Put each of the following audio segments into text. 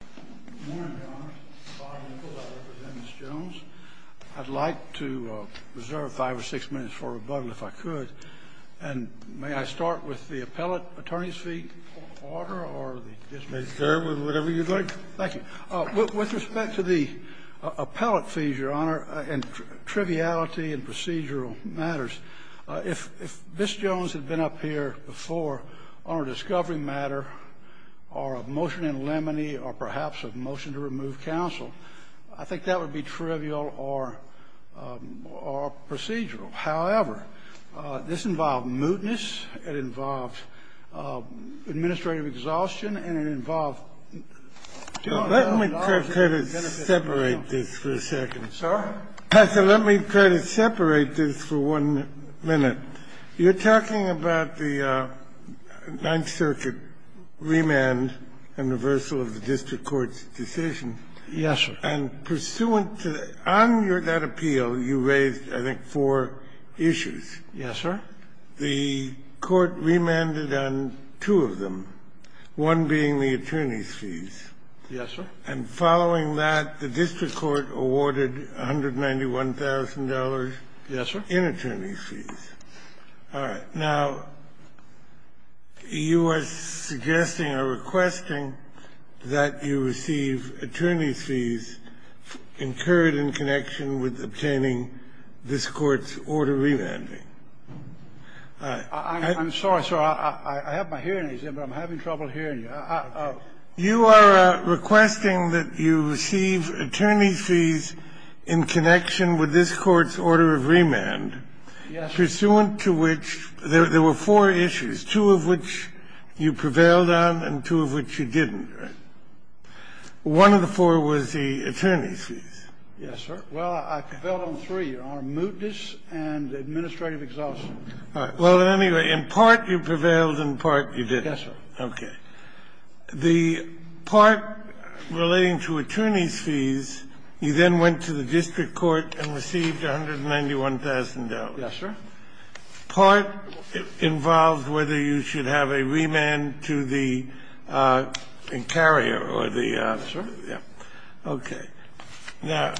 Good morning, Your Honor. Bob Nichols, I represent Ms. Jones. I'd like to reserve five or six minutes for rebuttal, if I could. And may I start with the appellate attorney's fee order? You may serve with whatever you'd like. Thank you. With respect to the appellate fees, Your Honor, and triviality in procedural matters, if Ms. Jones had been up here before on a discovery matter or a motion in limine or perhaps a motion to remove counsel, I think that would be trivial or procedural. However, this involved mootness, it involved administrative exhaustion, and it involved Let me try to separate this for a second. Sir? Let me try to separate this for one minute. You're talking about the Ninth Circuit remand and reversal of the district court's decision. Yes, sir. And pursuant to that appeal, you raised, I think, four issues. Yes, sir. The court remanded on two of them, one being the attorney's fees. Yes, sir. And following that, the district court awarded $191,000. Yes, sir. In attorney's fees. All right. Now, you are suggesting or requesting that you receive attorney's fees incurred in connection with obtaining this Court's order remanding. I'm sorry, sir. I have my hearing exam, but I'm having trouble hearing you. You are requesting that you receive attorney's fees in connection with this Court's order of remand, pursuant to which there were four issues, two of which you prevailed on and two of which you didn't, right? One of the four was the attorney's fees. Yes, sir. Well, I prevailed on three, Your Honor, mootness and administrative exhaustion. All right. Well, anyway, in part you prevailed, in part you didn't. Yes, sir. Okay. The part relating to attorney's fees, you then went to the district court and received $191,000. Yes, sir. Part involves whether you should have a remand to the carrier or the other. Yes, sir. Okay. Now,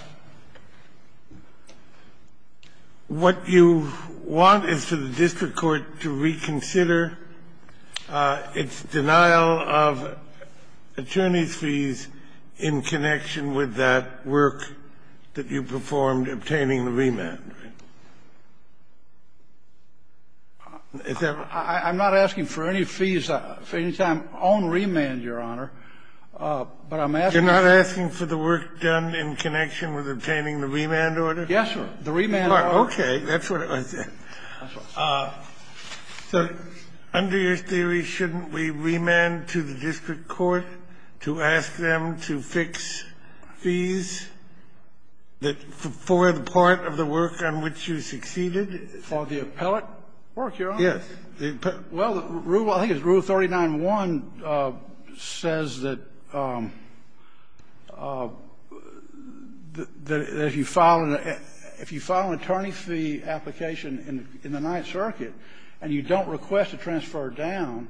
what you want is for the district court to reconsider its denial of attorney's fees in connection with that work that you performed obtaining the remand, right? Is that right? I'm not asking for any fees for any time on remand, Your Honor. You're not asking for the work done in connection with obtaining the remand order? Yes, sir. The remand order. Okay. That's what I said. So under your theory, shouldn't we remand to the district court to ask them to fix fees for the part of the work on which you succeeded? For the appellate work, Your Honor? Yes. Well, I think it's Rule 39-1 says that if you file an attorney fee application in the Ninth Circuit and you don't request a transfer down,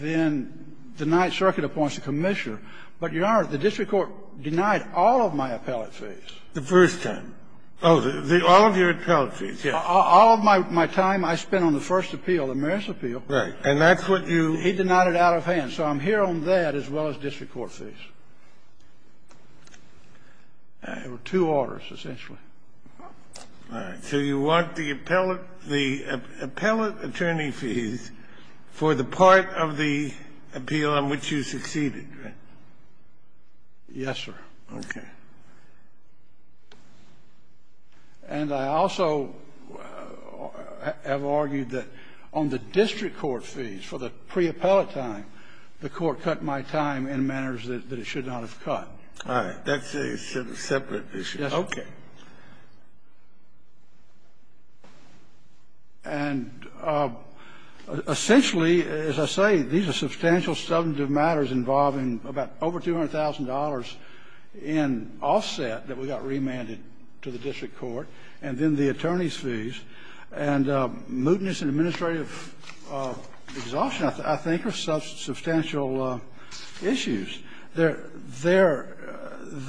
then the Ninth Circuit appoints a commissioner. But, Your Honor, the district court denied all of my appellate fees. The first time. Oh, all of your appellate fees, yes. All of my time I spent on the first appeal, the Marist appeal. Right. And that's what you do? He denied it out of hand. So I'm here on that as well as district court fees. There were two orders, essentially. All right. So you want the appellate attorney fees for the part of the appeal on which you succeeded, right? Yes, sir. Okay. And I also have argued that on the district court fees for the preappellate time, the Court cut my time in manners that it should not have cut. All right. That's a separate issue. Okay. And essentially, as I say, these are substantial substantive matters involving about over $200,000 in offset that we got remanded to the district court, and then the attorney's fees, and mootness and administrative exhaustion, I think, are substantial issues. There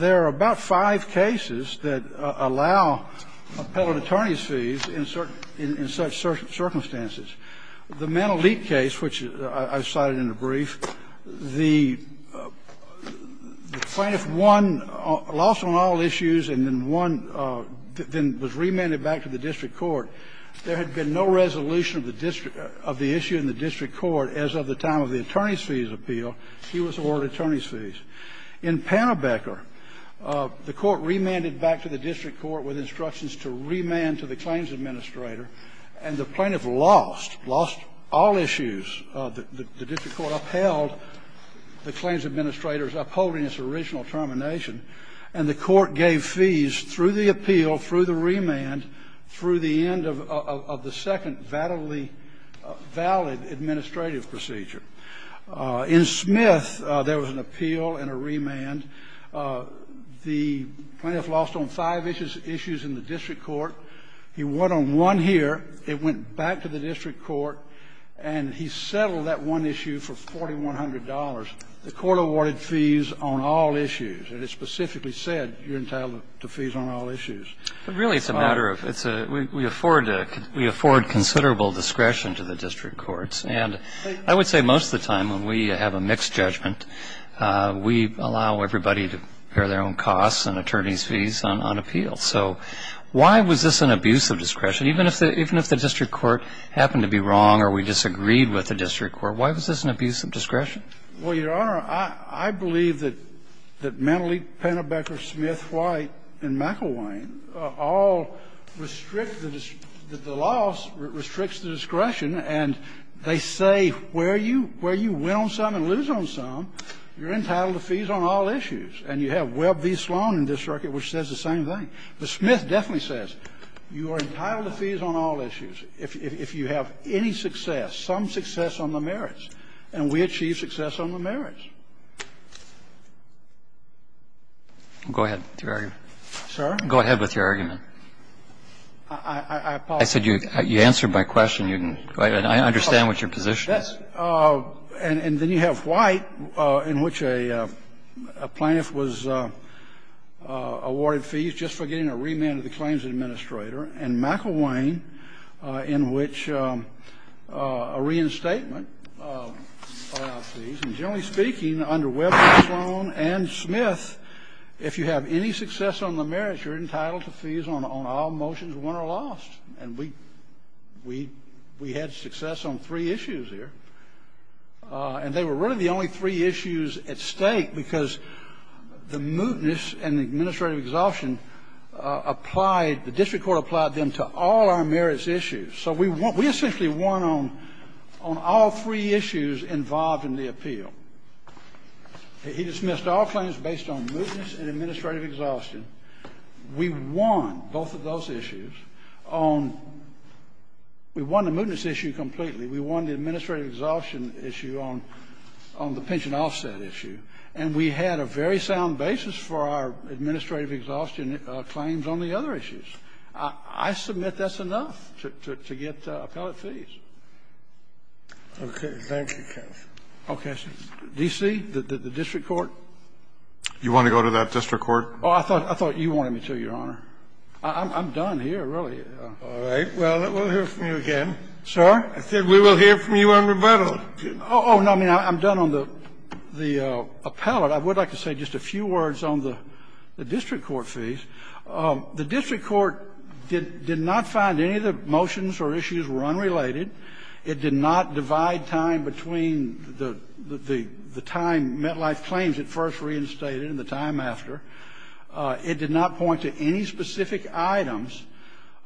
are about five cases that allow appellate attorney's fees in such circumstances. The Manalik case, which I cited in the brief, the plaintiff won, lost on all issues and then won, then was remanded back to the district court. There had been no resolution of the issue in the district court as of the time of the attorney's fees appeal. He was awarded attorney's fees. In Pannerbecker, the Court remanded back to the district court with instructions to remand to the claims administrator, and the plaintiff lost, lost all issues. The district court upheld the claims administrator's upholding its original termination, and the Court gave fees through the appeal, through the remand, through the end of the second valid administrative procedure. In Smith, there was an appeal and a remand. The plaintiff lost on five issues in the district court. He won on one here. It went back to the district court. And he settled that one issue for $4,100. The Court awarded fees on all issues. And it specifically said you're entitled to fees on all issues. But really, it's a matter of we afford considerable discretion to the district courts. And I would say most of the time, when we have a mixed judgment, we allow everybody to bear their own costs and attorney's fees on appeals. So why was this an abuse of discretion? Even if the district court happened to be wrong or we disagreed with the district court, why was this an abuse of discretion? Well, Your Honor, I believe that Mendeley, Pannerbecker, Smith, White, and McIlwain all restrict the loss, restricts the discretion, and they say where you win on some and lose on some, you're entitled to fees on all issues. And you have Webb v. Sloan in this circuit which says the same thing. But Smith definitely says you are entitled to fees on all issues if you have any success, some success on the merits, and we achieve success on the merits. Go ahead with your argument. I said you answered my question. I understand what your position is. And then you have White in which a plaintiff was awarded fees just for getting a remand to the claims administrator, and McIlwain in which a reinstatement client, and generally speaking, under Webb v. Sloan and Smith, if you have any success on the merits, you're entitled to fees on all motions won or lost. And we had success on three issues here. And they were really the only three issues at stake, because the mootness and administrative exhaustion applied, the district court applied them to all our merits issues. So we essentially won on all three issues involved in the appeal. He dismissed all claims based on mootness and administrative exhaustion. We won both of those issues. We won the mootness issue completely. We won the administrative exhaustion issue on the pension offset issue. And we had a very sound basis for our administrative exhaustion claims on the other issues. I submit that's enough to get appellate fees. Okay. Thank you, counsel. Okay. D.C., the district court? You want to go to that district court? Oh, I thought you wanted me to, Your Honor. I'm done here, really. All right. Well, we'll hear from you again. Sir? I said we will hear from you in rebuttal. Oh, no. I mean, I'm done on the appellate. I would like to say just a few words on the district court fees. The district court did not find any of the motions or issues were unrelated. It did not divide time between the time MetLife claims it first reinstated and the time after. It did not point to any specific items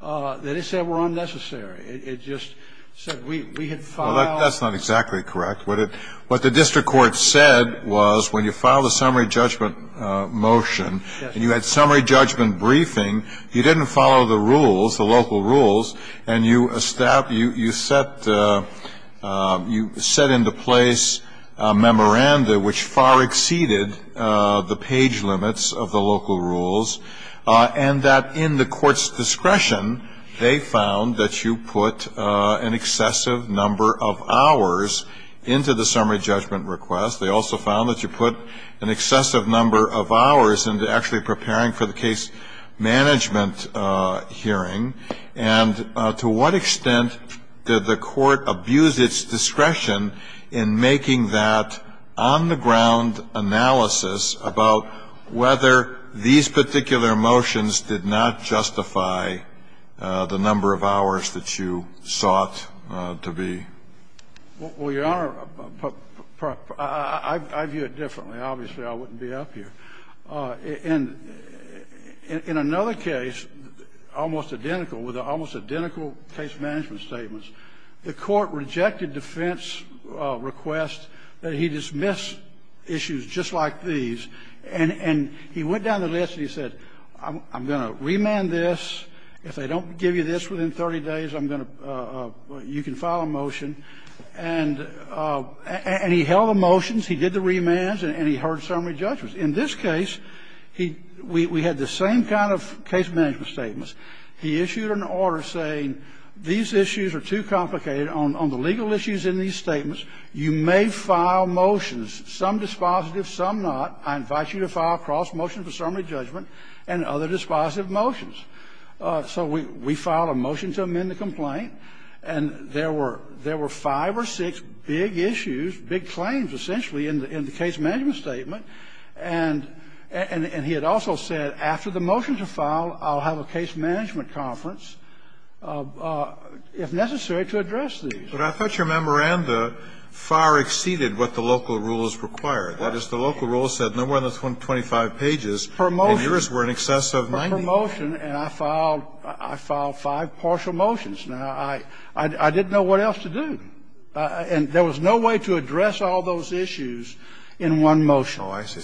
that it said were unnecessary. It just said we had filed. Well, that's not exactly correct. What the district court said was when you filed a summary judgment motion and you had summary judgment briefing, you didn't follow the rules, the local rules, and you set into place a memoranda which far exceeded the page limits of the local rules, and that in the court's discretion, they found that you put an excessive number of hours into the summary judgment request. They also found that you put an excessive number of hours into actually preparing for the case management hearing. And to what extent did the court abuse its discretion in making that on-the-ground analysis about whether these particular motions did not justify the number of hours that you sought to be? Well, Your Honor, I view it differently. Obviously, I wouldn't be up here. In another case, almost identical, with almost identical case management statements, the court rejected defense requests that he dismiss issues just like these. And he went down the list and he said, I'm going to remand this. If they don't give you this within 30 days, I'm going to – you can file a motion. And he held the motions, he did the remands, and he heard summary judgments. In this case, we had the same kind of case management statements. He issued an order saying these issues are too complicated. On the legal issues in these statements, you may file motions, some dispositive, some not. I invite you to file a cross motion for summary judgment and other dispositive motions. So we filed a motion to amend the complaint. And there were five or six big issues, big claims, essentially, in the case management statement. And he had also said, after the motions are filed, I'll have a case management conference if necessary to address these. But I thought your memoranda far exceeded what the local rules required. That is, the local rules said no more than 25 pages. Promotion. And yours were in excess of 90. I filed a motion and I filed five partial motions. Now, I didn't know what else to do. And there was no way to address all those issues in one motion. Oh, I see.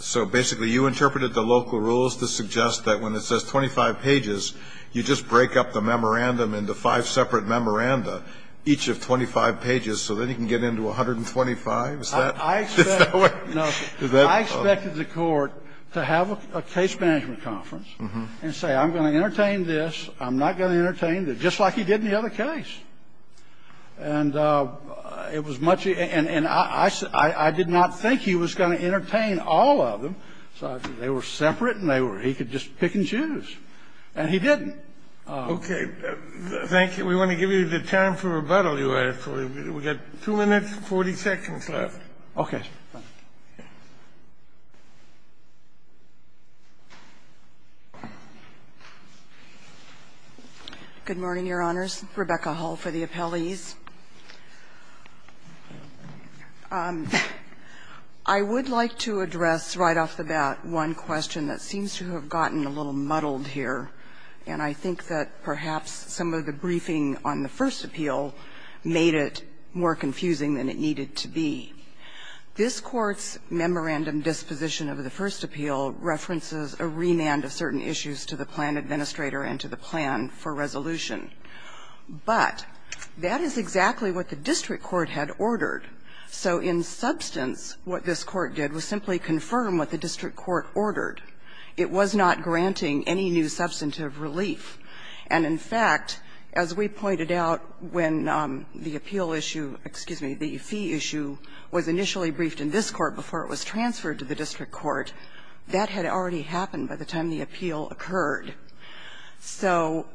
So basically you interpreted the local rules to suggest that when it says 25 pages, you just break up the memorandum into five separate memoranda, each of 25 pages, so then you can get into 125? Is that the way? No. I expected the Court to have a case management conference and say, I'm going to entertain this, I'm not going to entertain this, just like he did in the other case. And it was much of a – and I did not think he was going to entertain all of them. They were separate and they were – he could just pick and choose. And he didn't. Okay. Thank you. We want to give you the time for rebuttal, Your Honor. We've got 2 minutes and 40 seconds left. Okay. Good morning, Your Honors. Rebecca Hull for the appellees. I would like to address right off the bat one question that seems to have gotten a little muddled here, and I think that perhaps some of the briefing on the first appeal references a remand of certain issues to the plan administrator and to the plan for resolution. But that is exactly what the district court had ordered. So in substance, what this Court did was simply confirm what the district court ordered. It was not granting any new substantive relief. And, in fact, as we pointed out when the appeal issue – excuse me, the fee issue – was initially briefed in this Court before it was transferred to the district court, that had already happened by the time the appeal occurred. So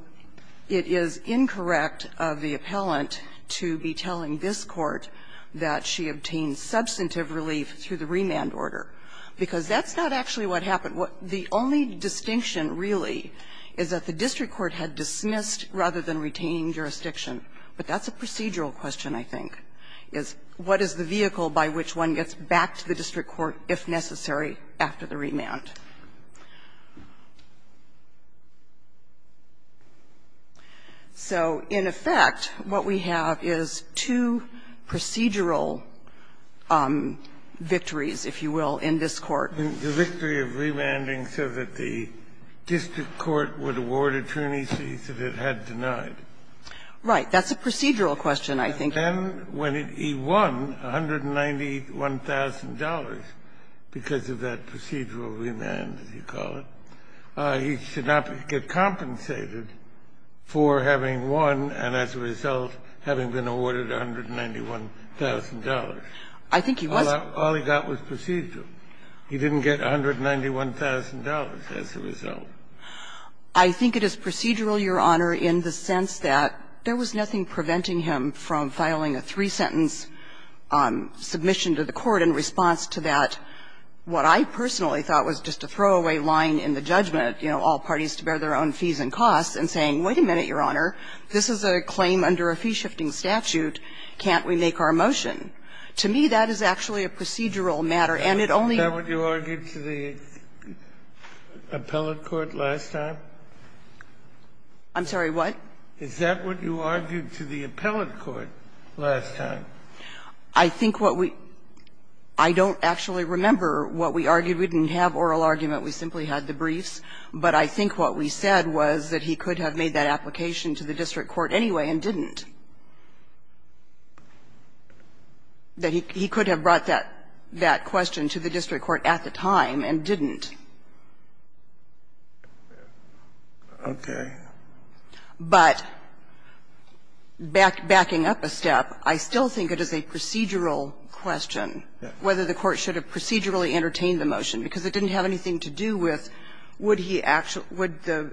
it is incorrect of the appellant to be telling this Court that she obtained substantive relief through the remand order, because that's not actually what happened. The only distinction, really, is that the district court had dismissed rather than retaining jurisdiction. But that's a procedural question, I think, is what is the vehicle by which one gets back to the district court, if necessary, after the remand. So, in effect, what we have is two procedural victories, if you will, in this Court. The victory of remanding so that the district court would award attorneys that it had denied. Right. That's a procedural question, I think. And when he won $191,000 because of that procedural remand, as you call it, he should not get compensated for having won and, as a result, having been awarded $191,000. I think he was. All he got was procedural. He didn't get $191,000 as a result. I think it is procedural, Your Honor, in the sense that there was nothing preventing him from filing a three-sentence submission to the Court in response to that, what I personally thought was just a throwaway line in the judgment, you know, all parties to bear their own fees and costs, and saying, wait a minute, Your Honor, this is a claim under a fee-shifting statute, can't we make our motion? To me, that is actually a procedural matter, and it only your argued to the appellate court last time? I'm sorry, what? Is that what you argued to the appellate court last time? I think what we don't actually remember what we argued. We didn't have oral argument. We simply had the briefs. But I think what we said was that he could have made that application to the district court anyway and didn't. That he could have brought that question to the district court at the time and didn't. But backing up a step, I still think it is a procedural question whether the court should have procedurally entertained the motion, because it didn't have anything to do with would he actually get the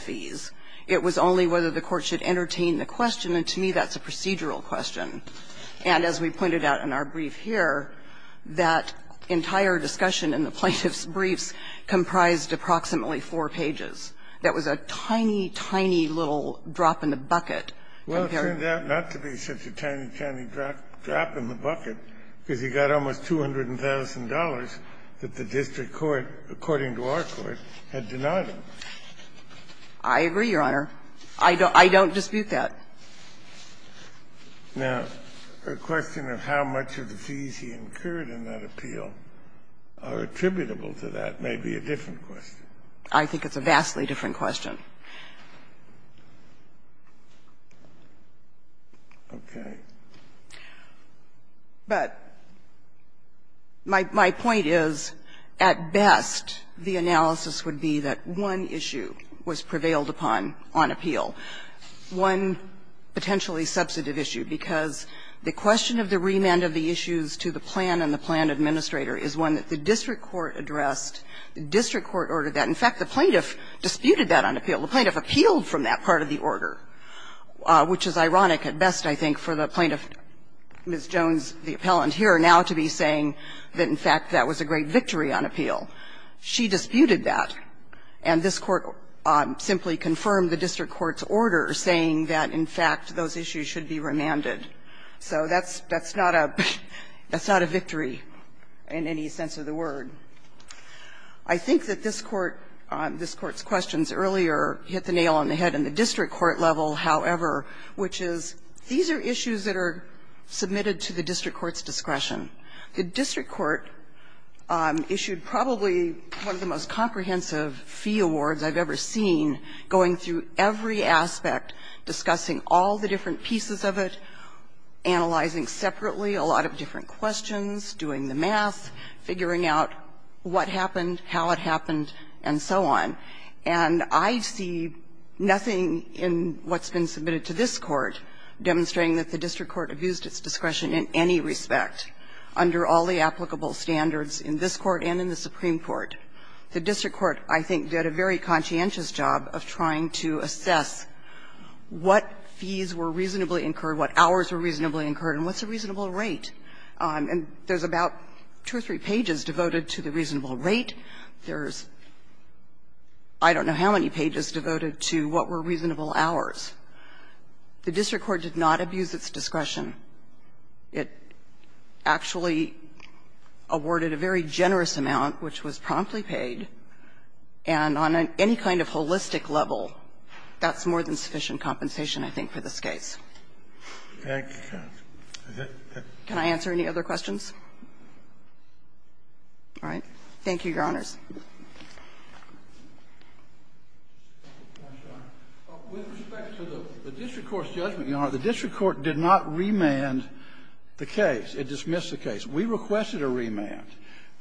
fees. It was only whether the court should entertain the question, and to me that's a procedural question. And as we pointed out in our brief here, that entire discussion in the plaintiff's briefs comprised approximately four pages. That was a tiny, tiny little drop in the bucket. Kennedy, it turned out not to be such a tiny, tiny drop in the bucket because he got almost $200,000 that the district court, according to our court, had denied him. I agree, Your Honor. I don't dispute that. Now, the question of how much of the fees he incurred in that appeal are attributable to that may be a different question. I think it's a vastly different question. Okay. But my point is, at best, the analysis would be that one is the case that the district court's claim that the issue was prevailed upon on appeal. One potentially substantive issue, because the question of the remand of the issues to the plan and the plan administrator is one that the district court addressed. The district court ordered that. In fact, the plaintiff disputed that on appeal. The plaintiff appealed from that part of the order, which is ironic at best, I think, for the plaintiff, Ms. Jones, the appellant here, now to be saying that, in fact, that was a great victory on appeal. She disputed that. And this Court simply confirmed the district court's order, saying that, in fact, those issues should be remanded. So that's not a victory in any sense of the word. I think that this Court's questions earlier hit the nail on the head in the district court level, however, which is, these are issues that are submitted to the district court's discretion. The district court issued probably one of the most comprehensive fee awards I've ever seen, going through every aspect, discussing all the different pieces of it, analyzing separately a lot of different questions, doing the math, figuring out what happened, how it happened, and so on. And I see nothing in what's been submitted to this Court demonstrating that the district court abused its discretion in any respect, under all the applicable standards in this Court and in the Supreme Court. The district court, I think, did a very conscientious job of trying to assess what fees were reasonably incurred, what hours were reasonably incurred, and what's the reasonable rate. And there's about two or three pages devoted to the reasonable rate. There's I don't know how many pages devoted to what were reasonable hours. The district court did not abuse its discretion. It actually awarded a very generous amount, which was promptly paid, and on any kind of holistic level, that's more than sufficient compensation, I think, for this case. Can I answer any other questions? All right. Thank you, Your Honors. With respect to the district court's judgment, Your Honor, the district court did not remand the case. It dismissed the case. We requested a remand,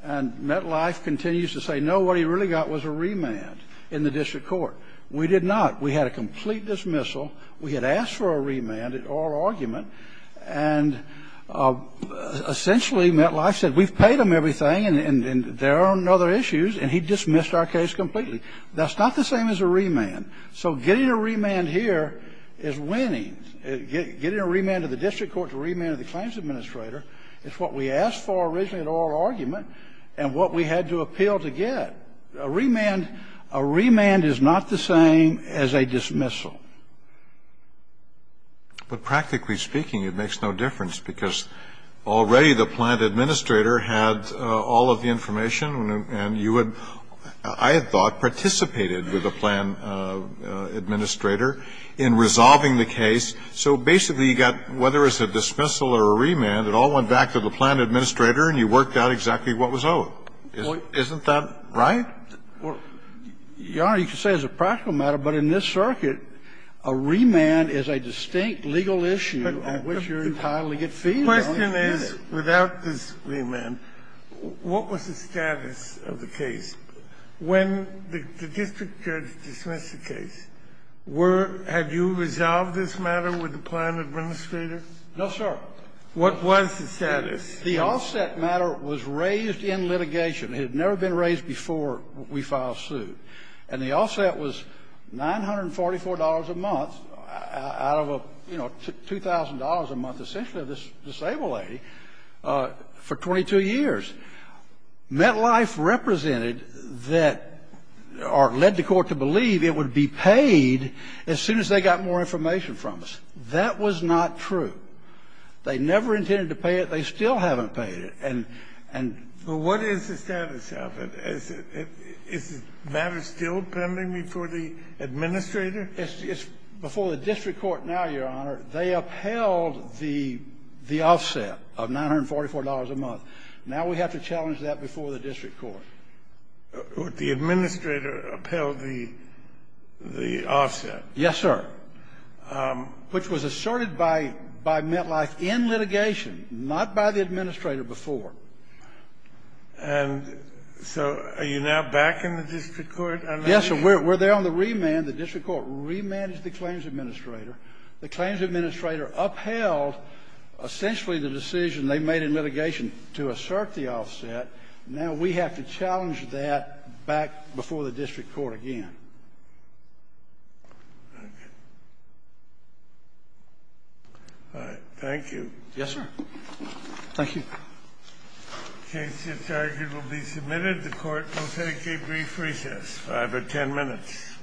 and Metlife continues to say, no, what he really got was a remand in the district court. We did not. We had a complete dismissal. We had asked for a remand at oral argument, and essentially, Metlife said, we've dismissed our case completely. That's not the same as a remand. So getting a remand here is winning. Getting a remand to the district court is a remand to the claims administrator. It's what we asked for originally at oral argument and what we had to appeal to get. A remand is not the same as a dismissal. But practically speaking, it makes no difference, because already the plant administrator had all of the information, and you had, I had thought, participated with the plant administrator in resolving the case. So basically, you got, whether it's a dismissal or a remand, it all went back to the plant administrator, and you worked out exactly what was owed. Isn't that right? Your Honor, you could say it's a practical matter, but in this circuit, a remand is a distinct legal issue on which you're entitled to get feedback. The question is, without this remand, what was the status of the case? When the district judge dismissed the case, were you, had you resolved this matter with the plant administrator? No, sir. What was the status? The offset matter was raised in litigation. It had never been raised before we filed suit. And the offset was $944 a month out of a, you know, $2,000 a month, essentially of this disabled lady, for 22 years. MetLife represented that, or led the court to believe it would be paid as soon as they got more information from us. That was not true. They never intended to pay it. They still haven't paid it. And, and... Well, what is the status of it? Is it, is the matter still pending before the administrator? It's before the district court now, Your Honor. They upheld the, the offset of $944 a month. Now we have to challenge that before the district court. The administrator upheld the, the offset. Yes, sir. Which was asserted by, by MetLife in litigation, not by the administrator before. And so are you now backing the district court? Yes, sir. We're, we're there on the remand. The district court remanded the claims administrator. The claims administrator upheld essentially the decision they made in litigation to assert the offset. Now we have to challenge that back before the district court again. All right. Thank you. Yes, sir. Thank you. The case is argued will be submitted. The court will take a brief recess, five or ten minutes.